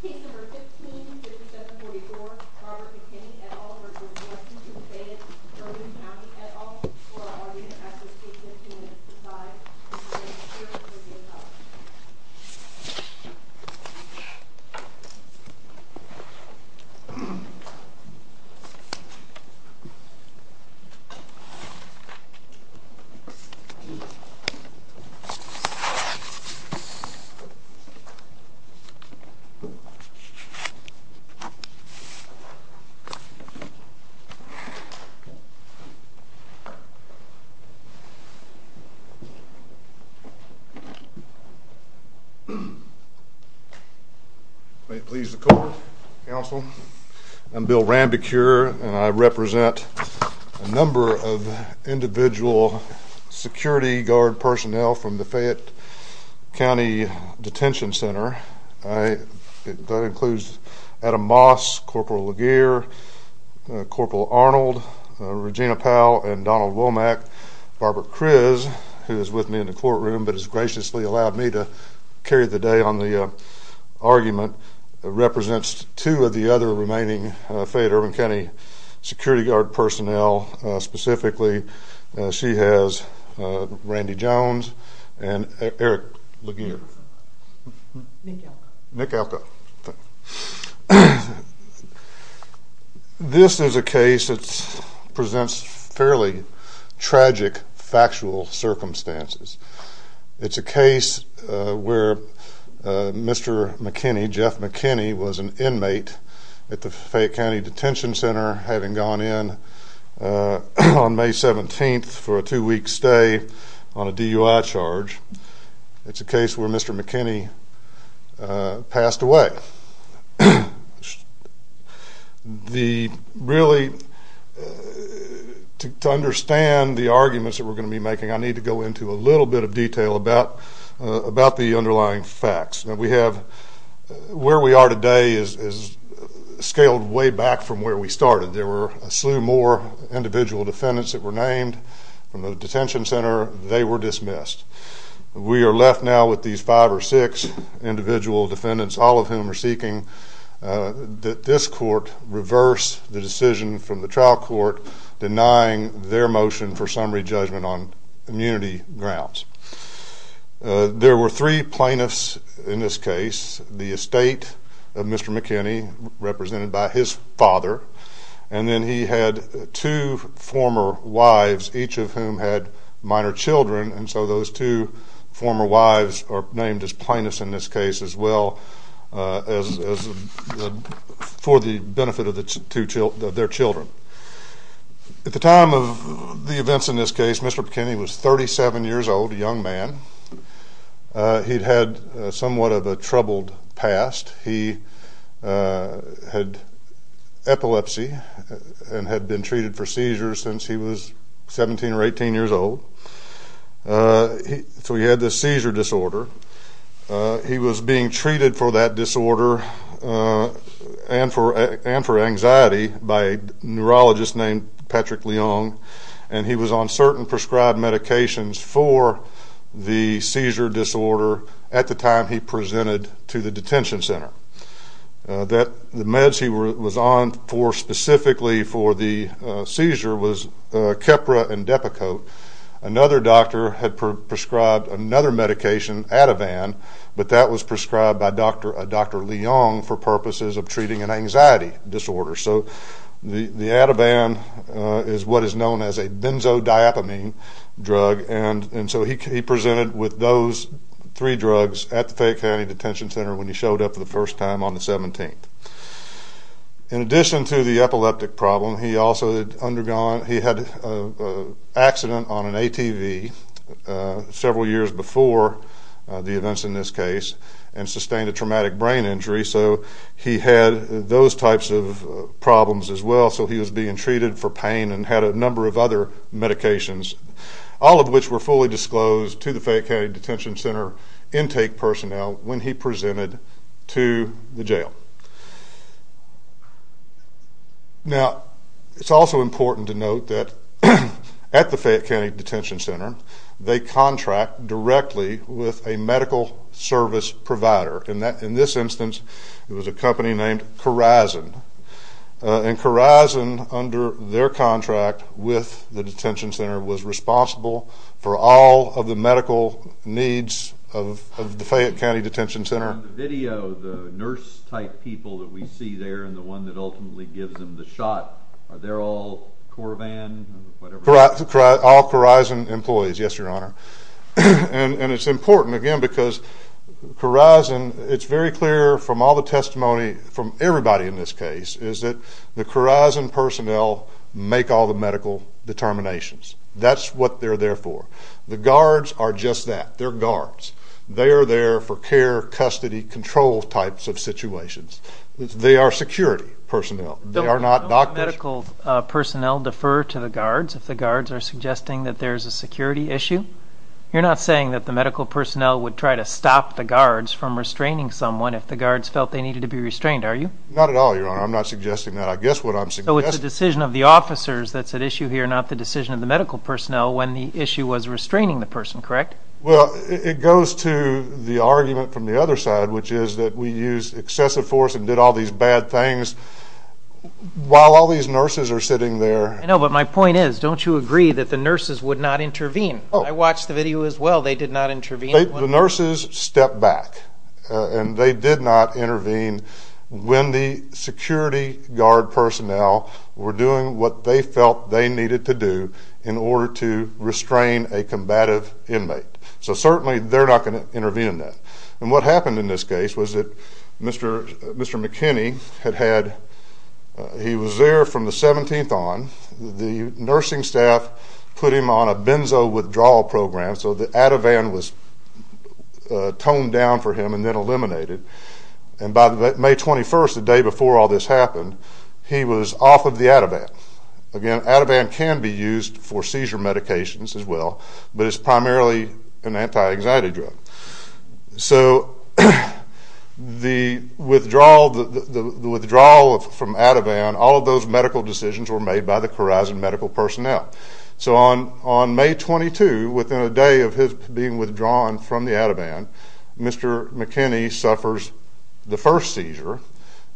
Case No. 15-5744, Robert McKinney et al. v. Lexington Fayette Urban County et al. For our audience, I ask that you please stand to your sides and remain seated until your name is called. May it please the court, counsel, I'm Bill Rambekeur and I represent a number of individual security guard personnel from the Fayette County Detention Center. That includes Adam Moss, Corporal Laguerre, Corporal Arnold, Regina Powell, and Donald Womack. Barbara Kriz, who is with me in the courtroom but has graciously allowed me to carry the day on the argument, represents two of the other remaining Fayette Urban County security guard personnel. Specifically, she has Randy Jones and Eric Laguerre. This is a case that presents fairly tragic factual circumstances. It's a case where Mr. McKinney, Jeff McKinney, was an inmate at the Fayette County Detention Center, having gone in on May 17th for a two-week stay on a DUI charge. It's a case where Mr. McKinney passed away. To understand the arguments that we're going to be making, I need to go into a little bit of detail about the underlying facts. Where we are today is scaled way back from where we started. There were a slew more individual defendants that were named from the detention center. They were dismissed. We are left now with these five or six individual defendants, all of whom are seeking that this court reverse the decision from the trial court denying their motion for summary judgment on immunity grounds. There were three plaintiffs in this case. The estate of Mr. McKinney, represented by his father. And then he had two former wives, each of whom had minor children. And so those two former wives are named as plaintiffs in this case as well for the benefit of their children. At the time of the events in this case, Mr. McKinney was 37 years old, a young man. He'd had somewhat of a troubled past. He had epilepsy and had been treated for seizures since he was 17 or 18 years old. So he had this seizure disorder. He was being treated for that disorder and for anxiety by a neurologist named Patrick Leong. And he was on certain prescribed medications for the seizure disorder at the time he presented to the detention center. The meds he was on for specifically for the seizure was Keppra and Depakote. Another doctor had prescribed another medication, Ativan, but that was prescribed by Dr. Leong for purposes of treating an anxiety disorder. So the Ativan is what is known as a benzodiapamine drug. And so he presented with those three drugs at the Fayette County Detention Center when he showed up for the first time on the 17th. In addition to the epileptic problem, he also had undergone, he had an accident on an ATV several years before the events in this case and sustained a traumatic brain injury. So he had those types of problems as well. So he was being treated for pain and had a number of other medications, all of which were fully disclosed to the Fayette County Detention Center intake personnel when he presented to the jail. Now, it's also important to note that at the Fayette County Detention Center, they contract directly with a medical service provider. In this instance, it was a company named Corizon. And Corizon, under their contract with the detention center, was responsible for all of the medical needs of the Fayette County Detention Center. On the video, the nurse-type people that we see there and the one that ultimately gives them the shot, are they all Corivan or whatever? All Corizon employees, yes, Your Honor. And it's important, again, because Corizon, it's very clear from all the testimony from everybody in this case, is that the Corizon personnel make all the medical determinations. That's what they're there for. The guards are just that. They're guards. They are there for care, custody, control types of situations. They are security personnel. They are not doctors. Don't the medical personnel defer to the guards if the guards are suggesting that there's a security issue? You're not saying that the medical personnel would try to stop the guards from restraining someone if the guards felt they needed to be restrained, are you? Not at all, Your Honor. I'm not suggesting that. I guess what I'm suggesting is the decision of the officers that's at issue here, not the decision of the medical personnel when the issue was restraining the person, correct? Well, it goes to the argument from the other side, which is that we used excessive force and did all these bad things. While all these nurses are sitting there. I know, but my point is, don't you agree that the nurses would not intervene? I watched the video as well. They did not intervene. The nurses stepped back, and they did not intervene when the security guard personnel were doing what they felt they needed to do in order to restrain a combative inmate. So certainly they're not going to intervene in that. And what happened in this case was that Mr. McKinney, he was there from the 17th on. The nursing staff put him on a benzo withdrawal program, so the Ativan was toned down for him and then eliminated. And by May 21st, the day before all this happened, he was off of the Ativan. Again, Ativan can be used for seizure medications as well, but it's primarily an anti-anxiety drug. So the withdrawal from Ativan, all of those medical decisions were made by the Khorasan medical personnel. So on May 22, within a day of his being withdrawn from the Ativan, Mr. McKinney suffers the first seizure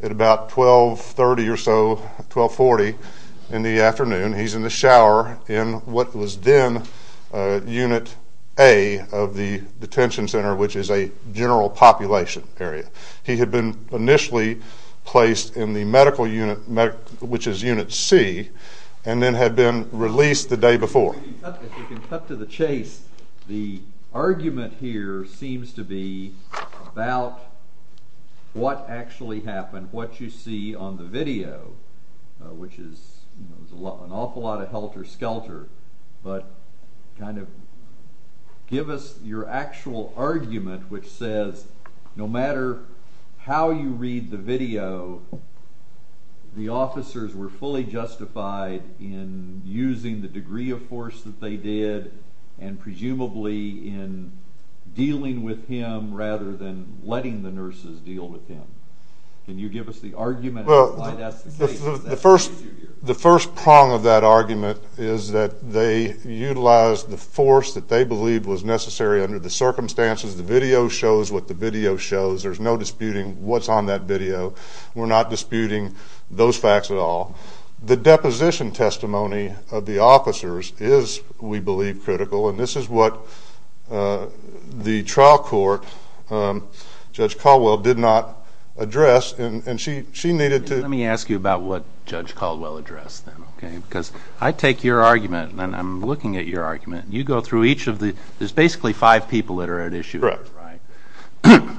at about 1230 or so, 1240 in the afternoon. He's in the shower in what was then Unit A of the detention center, which is a general population area. He had been initially placed in the medical unit, which is Unit C, and then had been released the day before. If we can cut to the chase, the argument here seems to be about what actually happened, what you see on the video, which is an awful lot of helter-skelter, but kind of give us your actual argument, which says no matter how you read the video, the officers were fully justified in using the degree of force that they did, and presumably in dealing with him rather than letting the nurses deal with him. Can you give us the argument of why that's the case? The first prong of that argument is that they utilized the force that they believed was necessary under the circumstances. The video shows what the video shows. There's no disputing what's on that video. We're not disputing those facts at all. The deposition testimony of the officers is, we believe, critical, and this is what the trial court, Judge Caldwell, did not address. Let me ask you about what Judge Caldwell addressed then, because I take your argument, and I'm looking at your argument. There's basically five people that are at issue. Correct.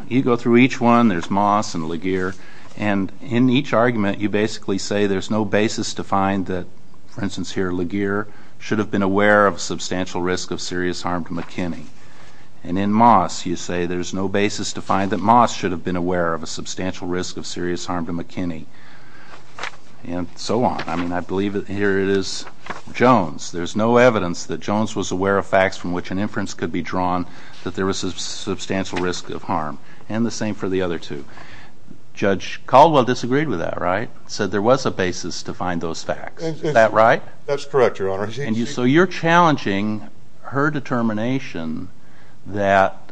You go through each one. There's Moss and Laguerre, and in each argument you basically say there's no basis to find that, for instance here, Laguerre should have been aware of a substantial risk of serious harm to McKinney, and in Moss you say there's no basis to find that Moss should have been aware of a substantial risk of serious harm to McKinney, and so on. I mean, I believe here it is Jones. There's no evidence that Jones was aware of facts from which an inference could be drawn that there was a substantial risk of harm, and the same for the other two. Judge Caldwell disagreed with that, right, said there was a basis to find those facts. Is that right? That's correct, Your Honor. So you're challenging her determination that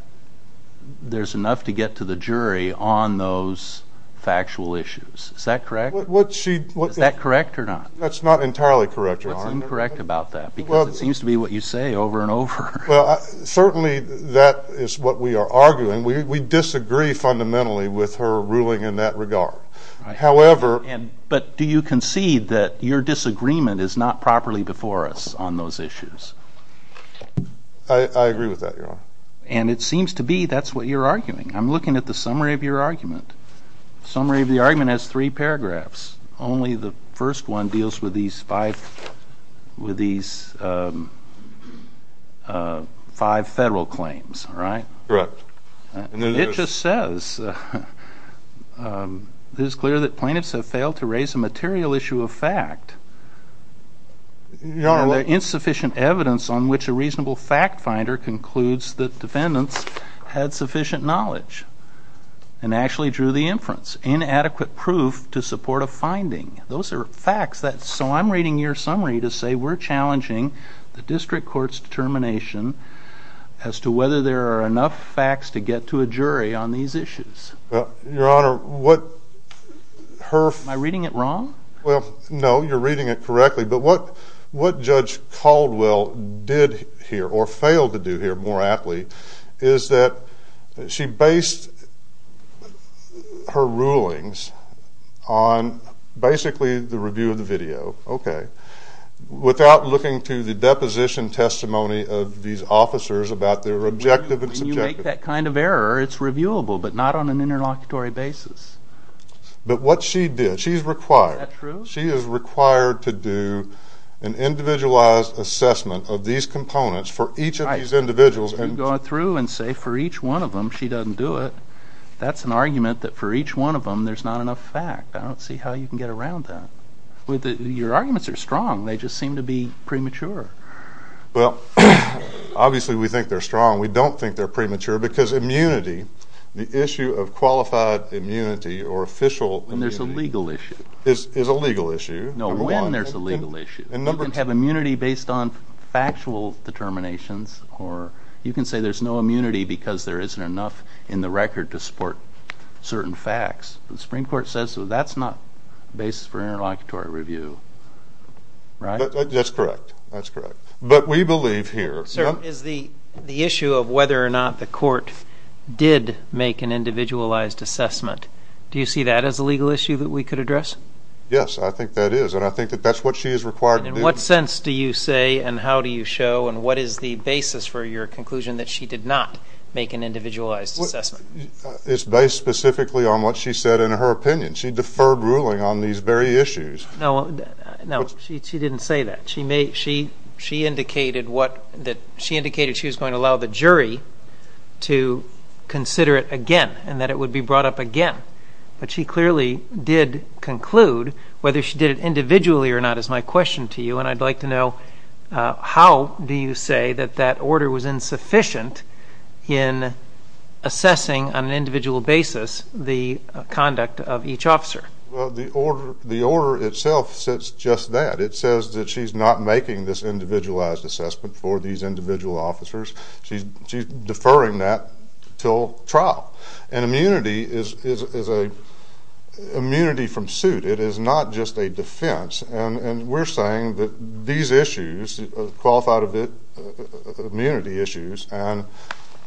there's enough to get to the jury on those factual issues. Is that correct? Is that correct or not? That's not entirely correct, Your Honor. Well, it's incorrect about that because it seems to be what you say over and over. Well, certainly that is what we are arguing. We disagree fundamentally with her ruling in that regard. However... But do you concede that your disagreement is not properly before us on those issues? I agree with that, Your Honor. And it seems to be that's what you're arguing. I'm looking at the summary of your argument. The summary of the argument has three paragraphs. Only the first one deals with these five federal claims, right? Correct. It just says, It is clear that plaintiffs have failed to raise a material issue of fact. There is insufficient evidence on which a reasonable fact finder concludes that defendants had sufficient knowledge and actually drew the inference. Inadequate proof to support a finding. Those are facts. So I'm reading your summary to say we're challenging the district court's determination as to whether there are enough facts to get to a jury on these issues. Well, Your Honor, what her... Am I reading it wrong? Well, no. You're reading it correctly. But what Judge Caldwell did here or failed to do here more aptly is that she based her rulings on basically the review of the video, okay, without looking to the deposition testimony of these officers about their objective and subjective. When you make that kind of error, it's reviewable, but not on an interlocutory basis. But what she did, she's required. Is that true? She is required to do an individualized assessment of these components for each of these individuals. If you go through and say for each one of them she doesn't do it, that's an argument that for each one of them there's not enough fact. I don't see how you can get around that. Your arguments are strong. They just seem to be premature. Well, obviously we think they're strong. We don't think they're premature because immunity, the issue of qualified immunity or official immunity... When there's a legal issue. ...is a legal issue. No, when there's a legal issue. You can have immunity based on factual determinations, or you can say there's no immunity because there isn't enough in the record to support certain facts. The Supreme Court says that's not the basis for interlocutory review, right? That's correct, that's correct. But we believe here... Sir, is the issue of whether or not the court did make an individualized assessment, do you see that as a legal issue that we could address? Yes, I think that is, and I think that that's what she is required to do. In what sense do you say and how do you show and what is the basis for your conclusion that she did not make an individualized assessment? It's based specifically on what she said in her opinion. She deferred ruling on these very issues. No, she didn't say that. She indicated she was going to allow the jury to consider it again and that it would be brought up again. But she clearly did conclude whether she did it individually or not is my question to you, and I'd like to know how do you say that that order was insufficient in assessing on an individual basis the conduct of each officer? Well, the order itself says just that. It says that she's not making this individualized assessment for these individual officers. She's deferring that until trial. And immunity is a immunity from suit. It is not just a defense, and we're saying that these issues, qualified immunity issues and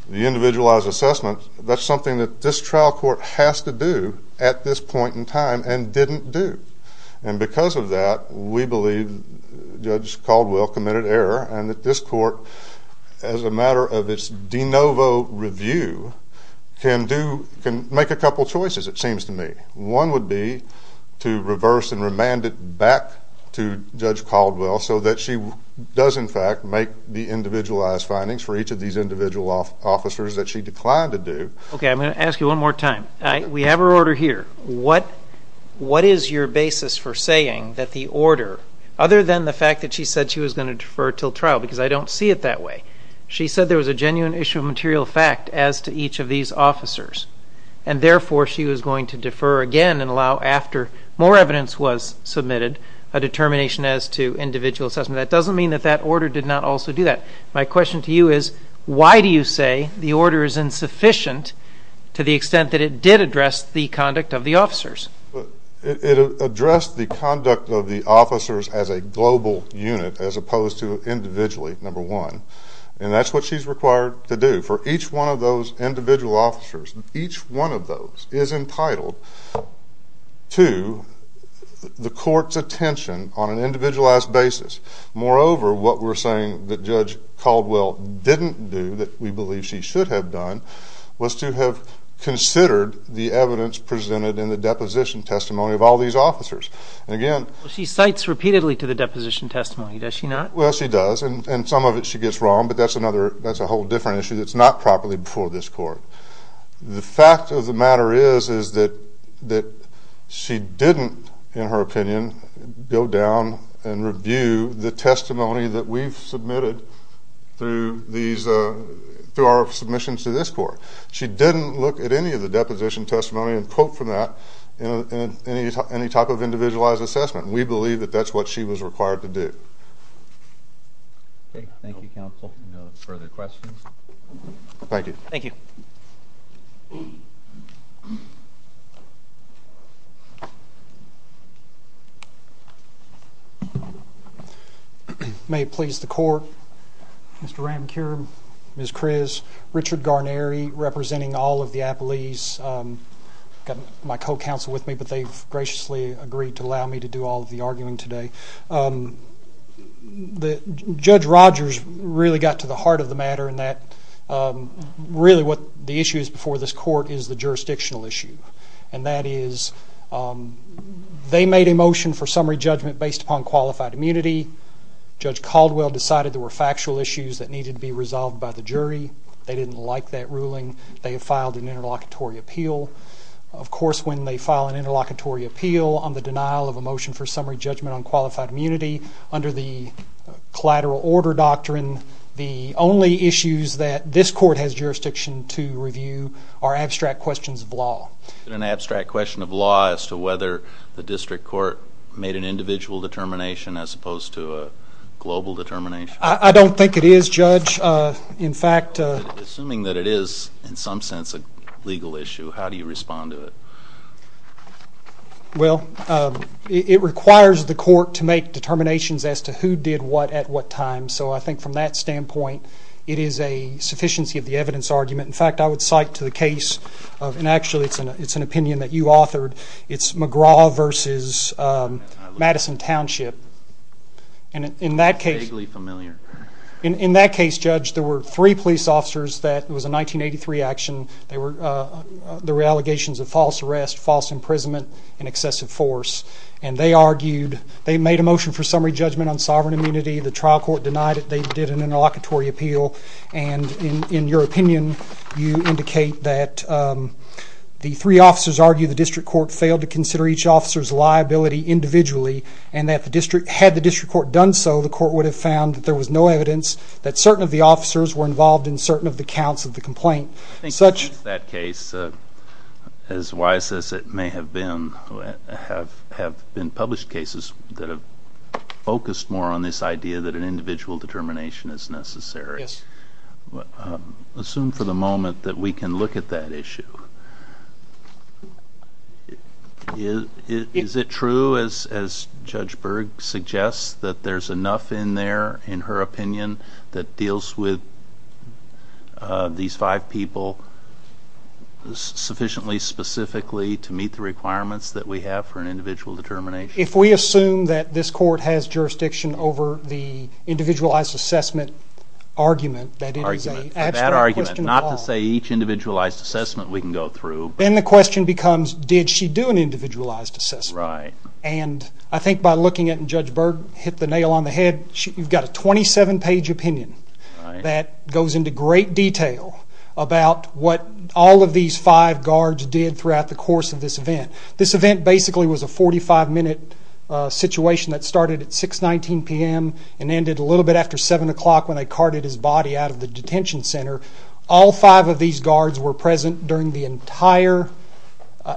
the individualized assessment, that's something that this trial court has to do at this point in time and didn't do. And because of that, we believe Judge Caldwell committed error and that this court, as a matter of its de novo review, can make a couple choices, it seems to me. One would be to reverse and remand it back to Judge Caldwell so that she does in fact make the individualized findings for each of these individual officers that she declined to do. Okay, I'm going to ask you one more time. We have her order here. What is your basis for saying that the order, other than the fact that she said she was going to defer until trial, because I don't see it that way. She said there was a genuine issue of material fact as to each of these officers, and therefore she was going to defer again and allow after more evidence was submitted a determination as to individual assessment. That doesn't mean that that order did not also do that. My question to you is why do you say the order is insufficient to the extent that it did address the conduct of the officers? It addressed the conduct of the officers as a global unit as opposed to individually, number one, and that's what she's required to do for each one of those individual officers. Each one of those is entitled to the court's attention on an individualized basis. Moreover, what we're saying that Judge Caldwell didn't do that we believe she should have done was to have considered the evidence presented in the deposition testimony of all these officers. She cites repeatedly to the deposition testimony, does she not? Well, she does, and some of it she gets wrong, but that's a whole different issue that's not properly before this court. The fact of the matter is that she didn't, in her opinion, go down and review the testimony that we've submitted through our submissions to this court. She didn't look at any of the deposition testimony and quote from that in any type of individualized assessment. We believe that that's what she was required to do. Thank you, counsel. No further questions? Thank you. Thank you. May it please the court, Mr. Ramkeur, Ms. Kriz, Richard Garneri, representing all of the appellees, got my co-counsel with me, but they've graciously agreed to allow me to do all of the arguing today. Judge Rogers really got to the heart of the matter in that really what the issue is before this court is the jurisdictional issue. And that is they made a motion for summary judgment based upon qualified immunity. Judge Caldwell decided there were factual issues that needed to be resolved by the jury. They didn't like that ruling. They have filed an interlocutory appeal. Of course, when they file an interlocutory appeal on the denial of a motion for summary judgment on qualified immunity under the collateral order doctrine, the only issues that this court has jurisdiction to review are abstract questions of law. An abstract question of law as to whether the district court made an individual determination as opposed to a global determination? I don't think it is, Judge. Assuming that it is in some sense a legal issue, how do you respond to it? Well, it requires the court to make determinations as to who did what at what time. So I think from that standpoint, it is a sufficiency of the evidence argument. In fact, I would cite to the case of, and actually it's an opinion that you authored, it's McGraw versus Madison Township. And in that case, Judge, there were three police officers that it was a 1983 action. There were allegations of false arrest, false imprisonment, and excessive force. And they argued, they made a motion for summary judgment on sovereign immunity. The trial court denied it. They did an interlocutory appeal. And in your opinion, you indicate that the three officers argued the district court failed to consider each officer's liability individually and that the district, had the district court done so, the court would have found that there was no evidence that certain of the officers were involved in certain of the counts of the complaint. I think since that case, as wise as it may have been, there have been published cases that have focused more on this idea that an individual determination is necessary. Assume for the moment that we can look at that issue. Is it true, as Judge Berg suggests, that there's enough in there, in her opinion, that deals with these five people sufficiently specifically to meet the requirements that we have for an individual determination? If we assume that this court has jurisdiction over the individualized assessment argument, that it is an abstract question of all. That argument, not to say each individualized assessment we can go through. Then the question becomes, did she do an individualized assessment? Right. And I think by looking at it, and Judge Berg hit the nail on the head, you've got a 27-page opinion that goes into great detail about what all of these five guards did throughout the course of this event. This event basically was a 45-minute situation that started at 6.19 p.m. and ended a little bit after 7 o'clock when they carted his body out of the detention center. All five of these guards were present during the entire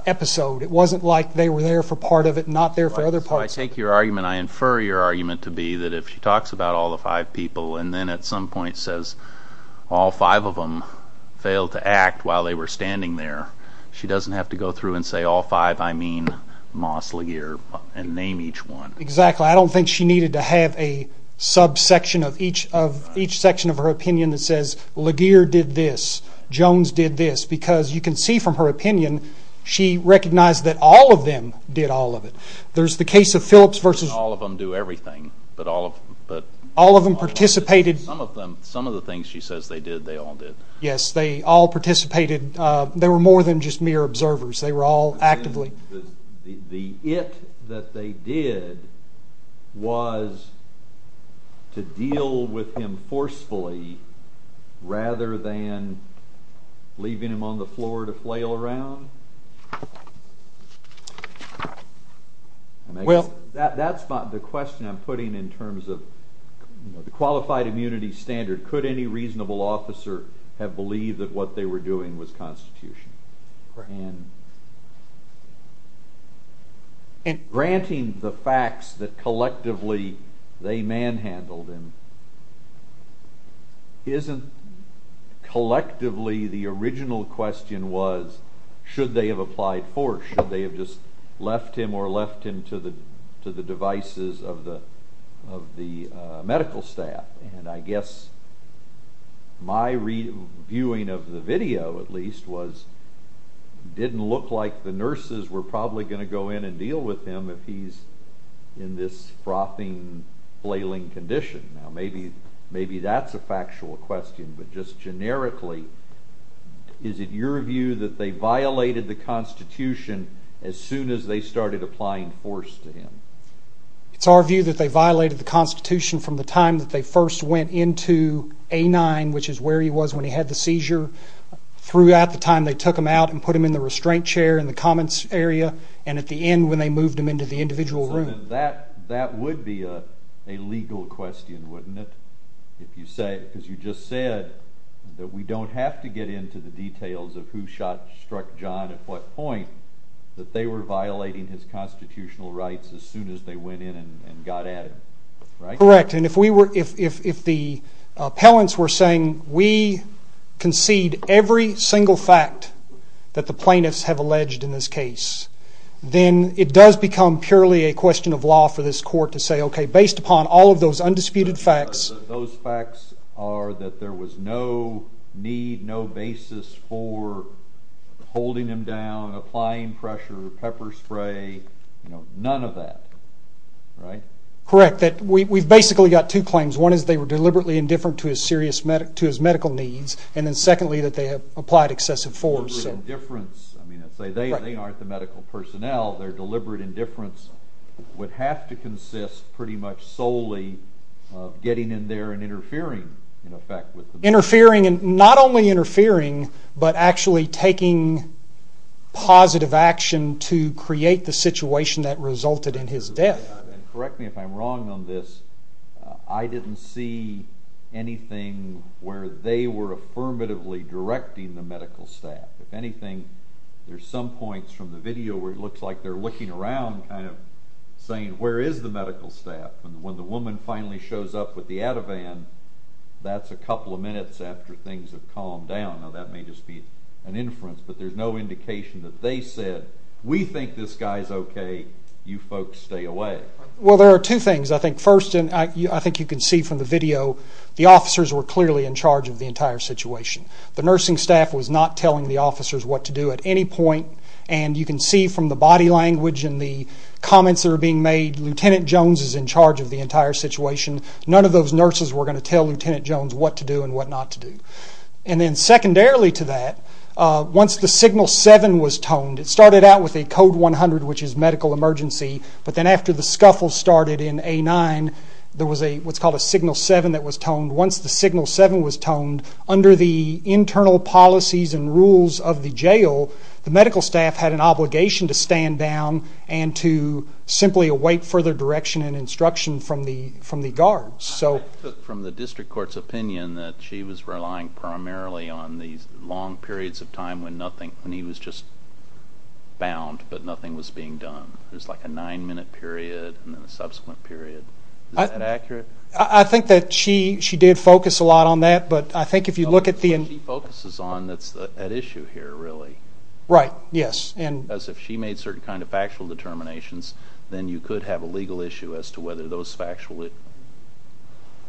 episode. It wasn't like they were there for part of it and not there for other parts of it. I take your argument, I infer your argument to be that if she talks about all the five people and then at some point says, all five of them failed to act while they were standing there, she doesn't have to go through and say, all five, I mean Moss, LaGear, and name each one. Exactly. I don't think she needed to have a subsection of each section of her opinion that says, LaGear did this, Jones did this, because you can see from her opinion, she recognized that all of them did all of it. There's the case of Phillips v. All of them do everything. All of them participated. Some of the things she says they did, they all did. Yes, they all participated. They were more than just mere observers. They were all actively. The it that they did was to deal with him forcefully rather than leaving him on the floor to flail around? That's not the question I'm putting in terms of the qualified immunity standard. Could any reasonable officer have believed that what they were doing was constitutional? Granting the facts that collectively they manhandled him isn't collectively the original question was, should they have applied force? Should they have just left him or left him to the devices of the medical staff? I guess my viewing of the video, at least, was it didn't look like the nurses were probably going to go in and deal with him if he's in this frothing, flailing condition. Maybe that's a factual question, but just generically, is it your view that they violated the Constitution as soon as they started applying force to him? It's our view that they violated the Constitution from the time that they first went into A-9, which is where he was when he had the seizure. Throughout the time they took him out and put him in the restraint chair in the Commons area, and at the end when they moved him into the individual room. That would be a legal question, wouldn't it? Because you just said that we don't have to get into the details of who struck John at what point, that they were violating his constitutional rights as soon as they went in and got at him, right? Correct, and if the appellants were saying, we concede every single fact that the plaintiffs have alleged in this case, then it does become purely a question of law for this court to say, okay, based upon all of those undisputed facts... pepper spray, none of that, right? Correct. We've basically got two claims. One is that they were deliberately indifferent to his medical needs, and then secondly, that they have applied excessive force. Deliberate indifference. I mean, let's say they aren't the medical personnel. Their deliberate indifference would have to consist pretty much solely of getting in there and interfering, in effect. Interfering, and not only interfering, but actually taking positive action to create the situation that resulted in his death. Correct me if I'm wrong on this. I didn't see anything where they were affirmatively directing the medical staff. If anything, there's some points from the video where it looks like they're looking around, kind of saying, where is the medical staff? And when the woman finally shows up with the Ativan, that's a couple of minutes after things have calmed down. Now, that may just be an inference, but there's no indication that they said, we think this guy's okay, you folks stay away. Well, there are two things, I think. First, and I think you can see from the video, the officers were clearly in charge of the entire situation. The nursing staff was not telling the officers what to do at any point, and you can see from the body language and the comments that are being made, that Lieutenant Jones is in charge of the entire situation. None of those nurses were going to tell Lieutenant Jones what to do and what not to do. And then secondarily to that, once the signal seven was toned, it started out with a code 100, which is medical emergency, but then after the scuffle started in A9, there was what's called a signal seven that was toned. Once the signal seven was toned, under the internal policies and rules of the jail, the medical staff had an obligation to stand down and to simply await further direction and instruction from the guards. I took from the district court's opinion that she was relying primarily on these long periods of time when he was just bound, but nothing was being done. It was like a nine-minute period and then a subsequent period. Is that accurate? I think that she did focus a lot on that, but I think if you look at the... She focuses on that issue here, really. Right, yes. As if she made certain kind of factual determinations, then you could have a legal issue as to whether those factual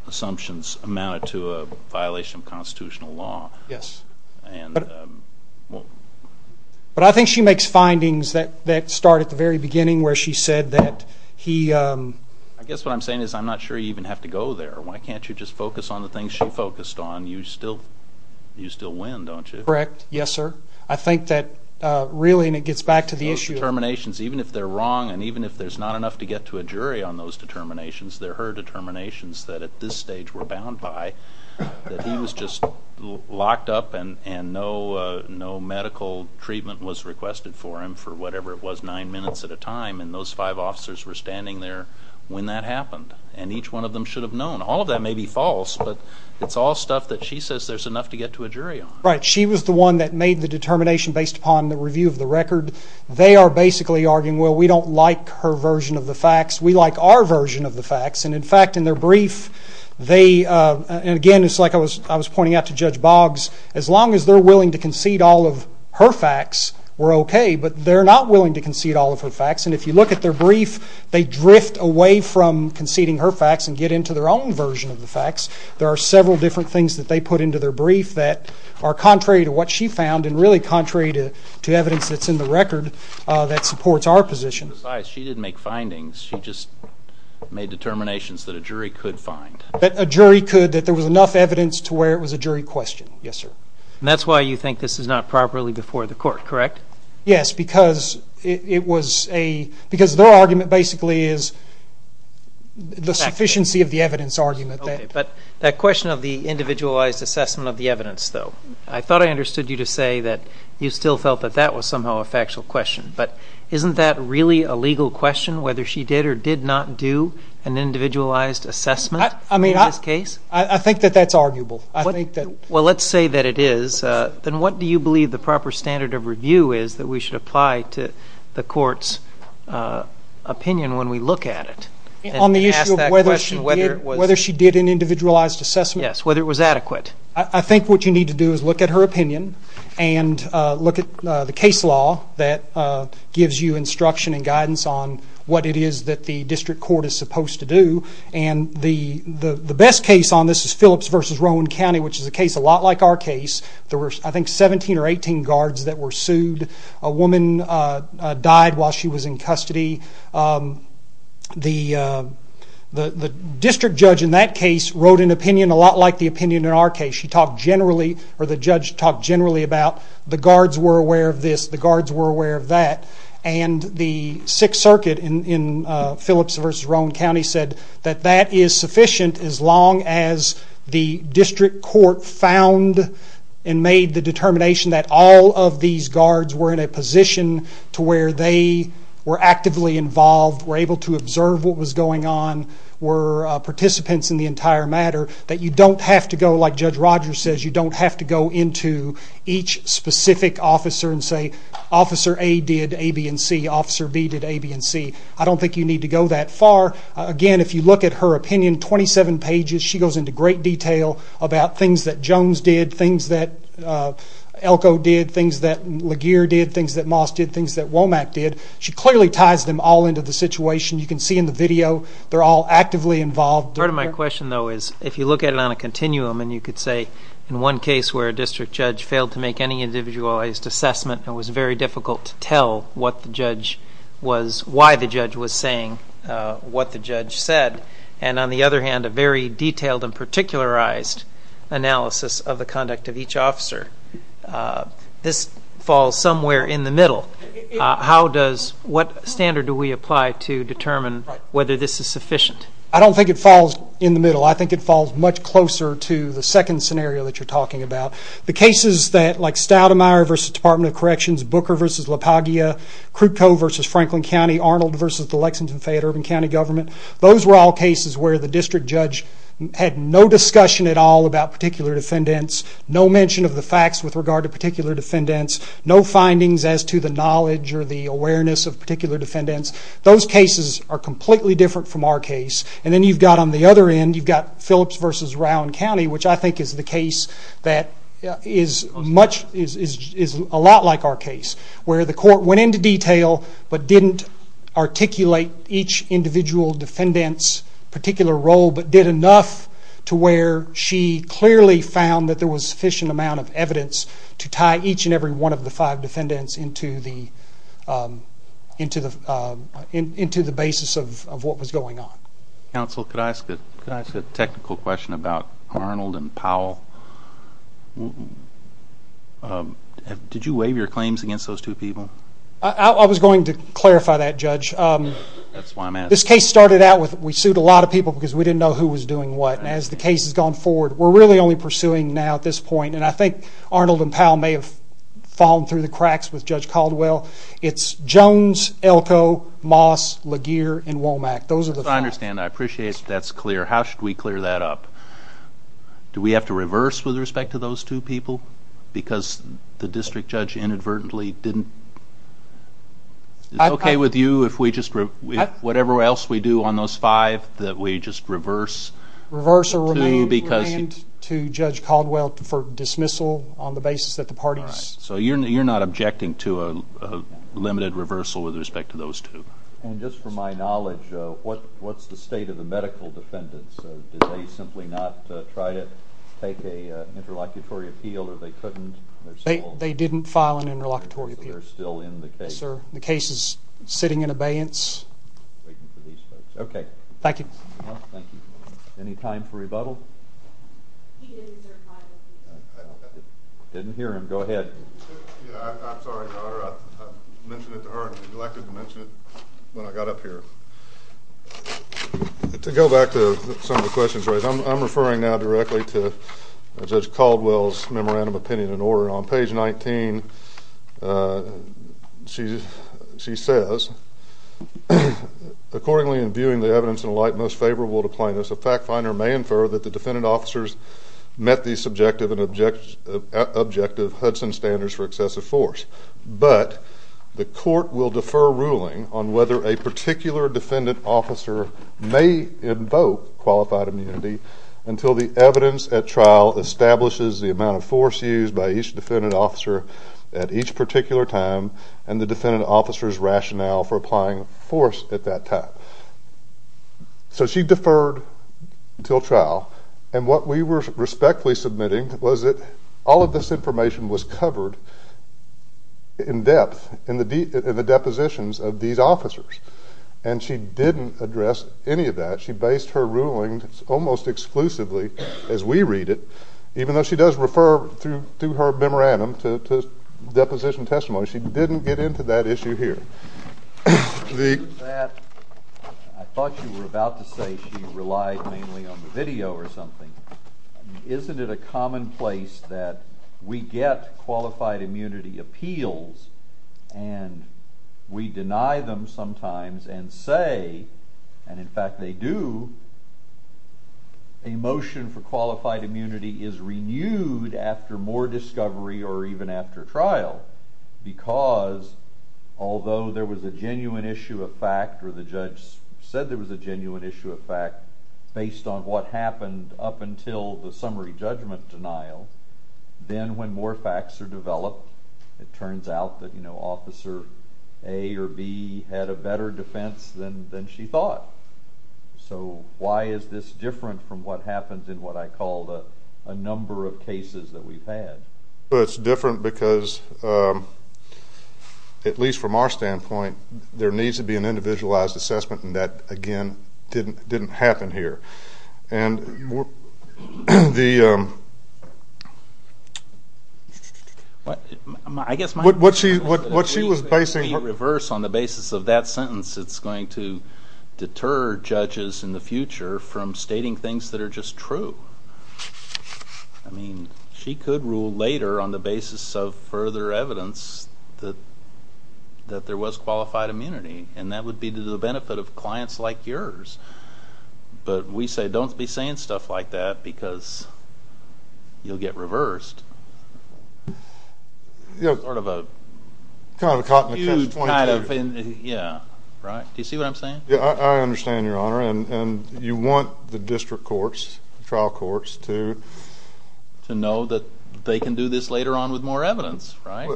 assumptions amounted to a violation of constitutional law. Yes. But I think she makes findings that start at the very beginning where she said that he... I guess what I'm saying is I'm not sure you even have to go there. Why can't you just focus on the things she focused on? You still win, don't you? Correct. Yes, sir. I think that really, and it gets back to the issue... Those determinations, even if they're wrong and even if there's not enough to get to a jury on those determinations, they're her determinations that at this stage were bound by, that he was just locked up and no medical treatment was requested for him for whatever it was, nine minutes at a time, and those five officers were standing there when that happened, and each one of them should have known. All of that may be false, but it's all stuff that she says there's enough to get to a jury on. Right. She was the one that made the determination based upon the review of the record. They are basically arguing, well, we don't like her version of the facts. We like our version of the facts. And, in fact, in their brief, they... And, again, it's like I was pointing out to Judge Boggs. As long as they're willing to concede all of her facts, we're okay. But they're not willing to concede all of her facts. And if you look at their brief, they drift away from conceding her facts and get into their own version of the facts. There are several different things that they put into their brief that are contrary to what she found and really contrary to evidence that's in the record that supports our position. Besides, she didn't make findings. She just made determinations that a jury could find. That a jury could, that there was enough evidence to where it was a jury question. Yes, sir. And that's why you think this is not properly before the court, correct? Yes, because it was a... Because their argument basically is the sufficiency of the evidence argument. Okay, but that question of the individualized assessment of the evidence, though, I thought I understood you to say that you still felt that that was somehow a factual question. But isn't that really a legal question, whether she did or did not do an individualized assessment in this case? I mean, I think that that's arguable. Well, let's say that it is. Then what do you believe the proper standard of review is that we should apply to the court's opinion when we look at it? On the issue of whether she did an individualized assessment? Yes, whether it was adequate. I think what you need to do is look at her opinion and look at the case law that gives you instruction and guidance on what it is that the district court is supposed to do. And the best case on this is Phillips v. Rowan County, which is a case a lot like our case. There were, I think, 17 or 18 guards that were sued. A woman died while she was in custody. The district judge in that case wrote an opinion a lot like the opinion in our case. She talked generally, or the judge talked generally about the guards were aware of this, the guards were aware of that. And the Sixth Circuit in Phillips v. Rowan County said that that is sufficient as long as the district court found and made the determination that all of these guards were in a position to where they were actively involved, were able to observe what was going on, were participants in the entire matter, that you don't have to go, like Judge Rogers says, you don't have to go into each specific officer and say, Officer A did A, B, and C, Officer B did A, B, and C. I don't think you need to go that far. Again, if you look at her opinion, 27 pages, she goes into great detail about things that Jones did, things that Elko did, things that Laguerre did, things that Moss did, things that Womack did. She clearly ties them all into the situation. You can see in the video they're all actively involved. Part of my question, though, is if you look at it on a continuum and you could say, in one case where a district judge failed to make any individualized assessment and it was very difficult to tell what the judge was, why the judge was saying what the judge said, and on the other hand a very detailed and particularized analysis of the conduct of each officer, this falls somewhere in the middle. What standard do we apply to determine whether this is sufficient? I don't think it falls in the middle. I think it falls much closer to the second scenario that you're talking about. The cases like Stoudemire v. Department of Corrections, Booker v. La Paglia, Krukko v. Franklin County, Arnold v. the Lexington-Fayette-Urban County Government, those were all cases where the district judge had no discussion at all about particular defendants, no mention of the facts with regard to particular defendants, no findings as to the knowledge or the awareness of particular defendants. Those cases are completely different from our case. Then you've got on the other end, you've got Phillips v. Rowan County, which I think is the case that is a lot like our case, where the court went into detail but didn't articulate each individual defendant's particular role, but did enough to where she clearly found that there was sufficient amount of evidence to tie each and every one of the five defendants into the basis of what was going on. Counsel, could I ask a technical question about Arnold and Powell? Did you waive your claims against those two people? I was going to clarify that, Judge. This case started out with we sued a lot of people because we didn't know who was doing what. As the case has gone forward, we're really only pursuing now at this point, and I think Arnold and Powell may have fallen through the cracks with Judge Caldwell. It's Jones, Elko, Moss, Laguerre, and Womack. Those are the five. As far as I understand, I appreciate that's clear. How should we clear that up? Do we have to reverse with respect to those two people because the district judge inadvertently didn't? Is it okay with you if whatever else we do on those five that we just reverse? Reverse or remand to Judge Caldwell for dismissal on the basis that the parties... So you're not objecting to a limited reversal with respect to those two? And just for my knowledge, what's the state of the medical defendants? Did they simply not try to take an interlocutory appeal or they couldn't? They didn't file an interlocutory appeal. So they're still in the case? Yes, sir. The case is sitting in abeyance. Okay. Thank you. Any time for rebuttal? Didn't hear him. Go ahead. I'm sorry, Your Honor. I mentioned it to her. You're likely to mention it when I got up here. To go back to some of the questions raised, I'm referring now directly to Judge Caldwell's memorandum of opinion and order. On page 19, she says, Accordingly, in viewing the evidence in light most favorable to plaintiffs, a fact finder may infer that the defendant officers met the subjective and objective Hudson standards for excessive force, but the court will defer ruling on whether a particular defendant officer may invoke qualified immunity until the evidence at trial establishes the amount of force used by each defendant officer at each particular time and the defendant officer's rationale for applying force at that time. So she deferred until trial. And what we were respectfully submitting was that all of this information was covered in depth in the depositions of these officers. And she didn't address any of that. She based her ruling almost exclusively, as we read it, even though she does refer through her memorandum to deposition testimony, she didn't get into that issue here. I thought you were about to say she relied mainly on the video or something. Isn't it a commonplace that we get qualified immunity appeals and we deny them sometimes and say, and in fact they do, a motion for qualified immunity is renewed after more discovery or even after trial because although there was a genuine issue of fact or the judge said there was a genuine issue of fact based on what happened up until the summary judgment denial, then when more facts are developed, it turns out that Officer A or B had a better defense than she thought. So why is this different from what happens in what I call a number of cases that we've had? Well, it's different because, at least from our standpoint, there needs to be an individualized assessment, and that, again, didn't happen here. And what she was basing her— It's going to be reversed on the basis of that sentence. It's going to deter judges in the future from stating things that are just true. I mean, she could rule later on the basis of further evidence that there was qualified immunity, and that would be to the benefit of clients like yours. But we say don't be saying stuff like that because you'll get reversed. It's sort of a huge kind of thing. Do you see what I'm saying? I understand, Your Honor, and you want the district courts, trial courts, to— To know that they can do this later on with more evidence, right?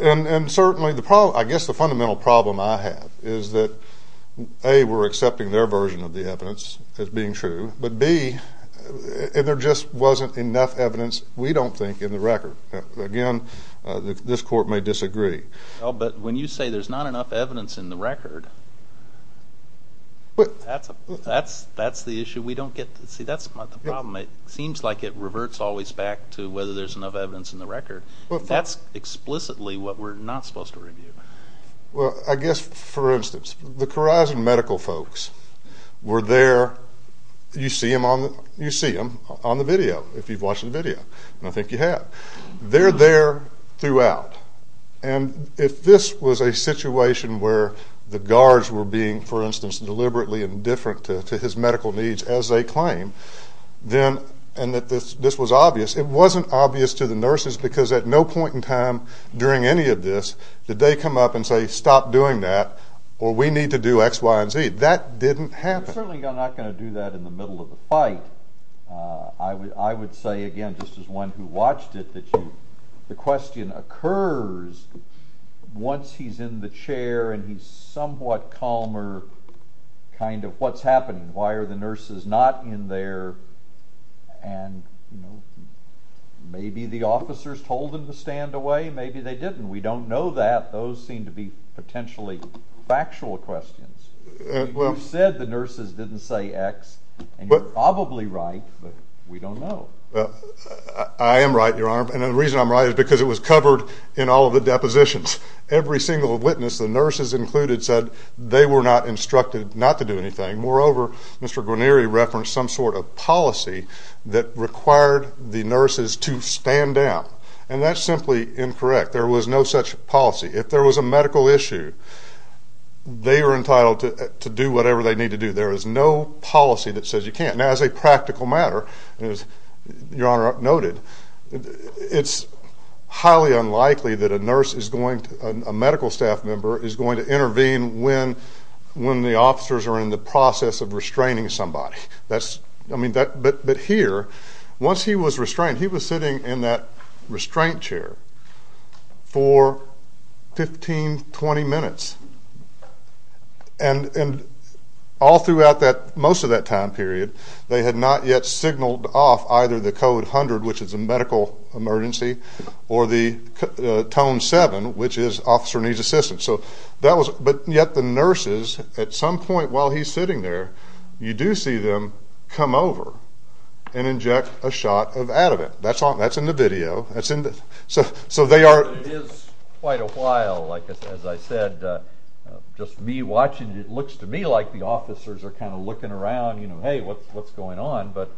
And certainly, I guess the fundamental problem I have is that, A, we're accepting their version of the evidence as being true, but, B, there just wasn't enough evidence, we don't think, in the record. Again, this court may disagree. But when you say there's not enough evidence in the record, that's the issue. We don't get—see, that's the problem. It seems like it reverts always back to whether there's enough evidence in the record. That's explicitly what we're not supposed to review. Well, I guess, for instance, the Khorasan medical folks were there. You see them on the video, if you've watched the video, and I think you have. They're there throughout. And if this was a situation where the guards were being, for instance, deliberately indifferent to his medical needs, as they claim, and that this was obvious, it wasn't obvious to the nurses because at no point in time during any of this did they come up and say, Stop doing that, or we need to do X, Y, and Z. That didn't happen. They're certainly not going to do that in the middle of the fight. I would say, again, just as one who watched it, that the question occurs once he's in the chair and he's somewhat calmer, kind of, what's happening? Why are the nurses not in there? And maybe the officers told them to stand away, maybe they didn't. We don't know that. Those seem to be potentially factual questions. You said the nurses didn't say X, and you're probably right, but we don't know. I am right, Your Honor, and the reason I'm right is because it was covered in all of the depositions. Every single witness, the nurses included, said they were not instructed not to do anything. Moreover, Mr. Guarneri referenced some sort of policy that required the nurses to stand down, and that's simply incorrect. There was no such policy. If there was a medical issue, they were entitled to do whatever they need to do. There is no policy that says you can't. Now, as a practical matter, as Your Honor noted, it's highly unlikely that a medical staff member is going to intervene when the officers are in the process of restraining somebody. But here, once he was restrained, he was sitting in that restraint chair for 15, 20 minutes. And all throughout most of that time period, they had not yet signaled off either the Code 100, which is a medical emergency, or the Tone 7, which is Officer Needs Assistance. But yet the nurses, at some point while he's sitting there, you do see them come over and inject a shot of Ativan. That's in the video. It is quite a while, as I said. Just me watching, it looks to me like the officers are kind of looking around, you know, hey, what's going on? But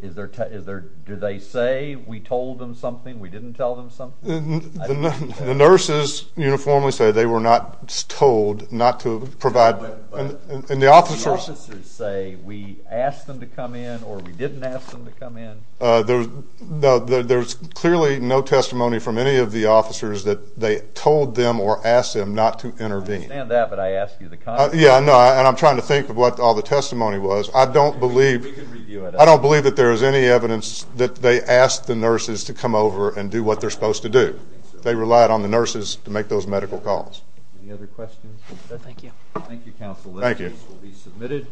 do they say we told them something, we didn't tell them something? The nurses uniformly say they were not told not to provide. And the officers say we asked them to come in or we didn't ask them to come in? No, there's clearly no testimony from any of the officers that they told them or asked them not to intervene. I understand that, but I asked you the question. Yeah, I know, and I'm trying to think of what all the testimony was. I don't believe that there is any evidence that they asked the nurses to come over and do what they're supposed to do. They relied on the nurses to make those medical calls. Any other questions? Thank you. Thank you, Counsel. Thank you. These will be submitted.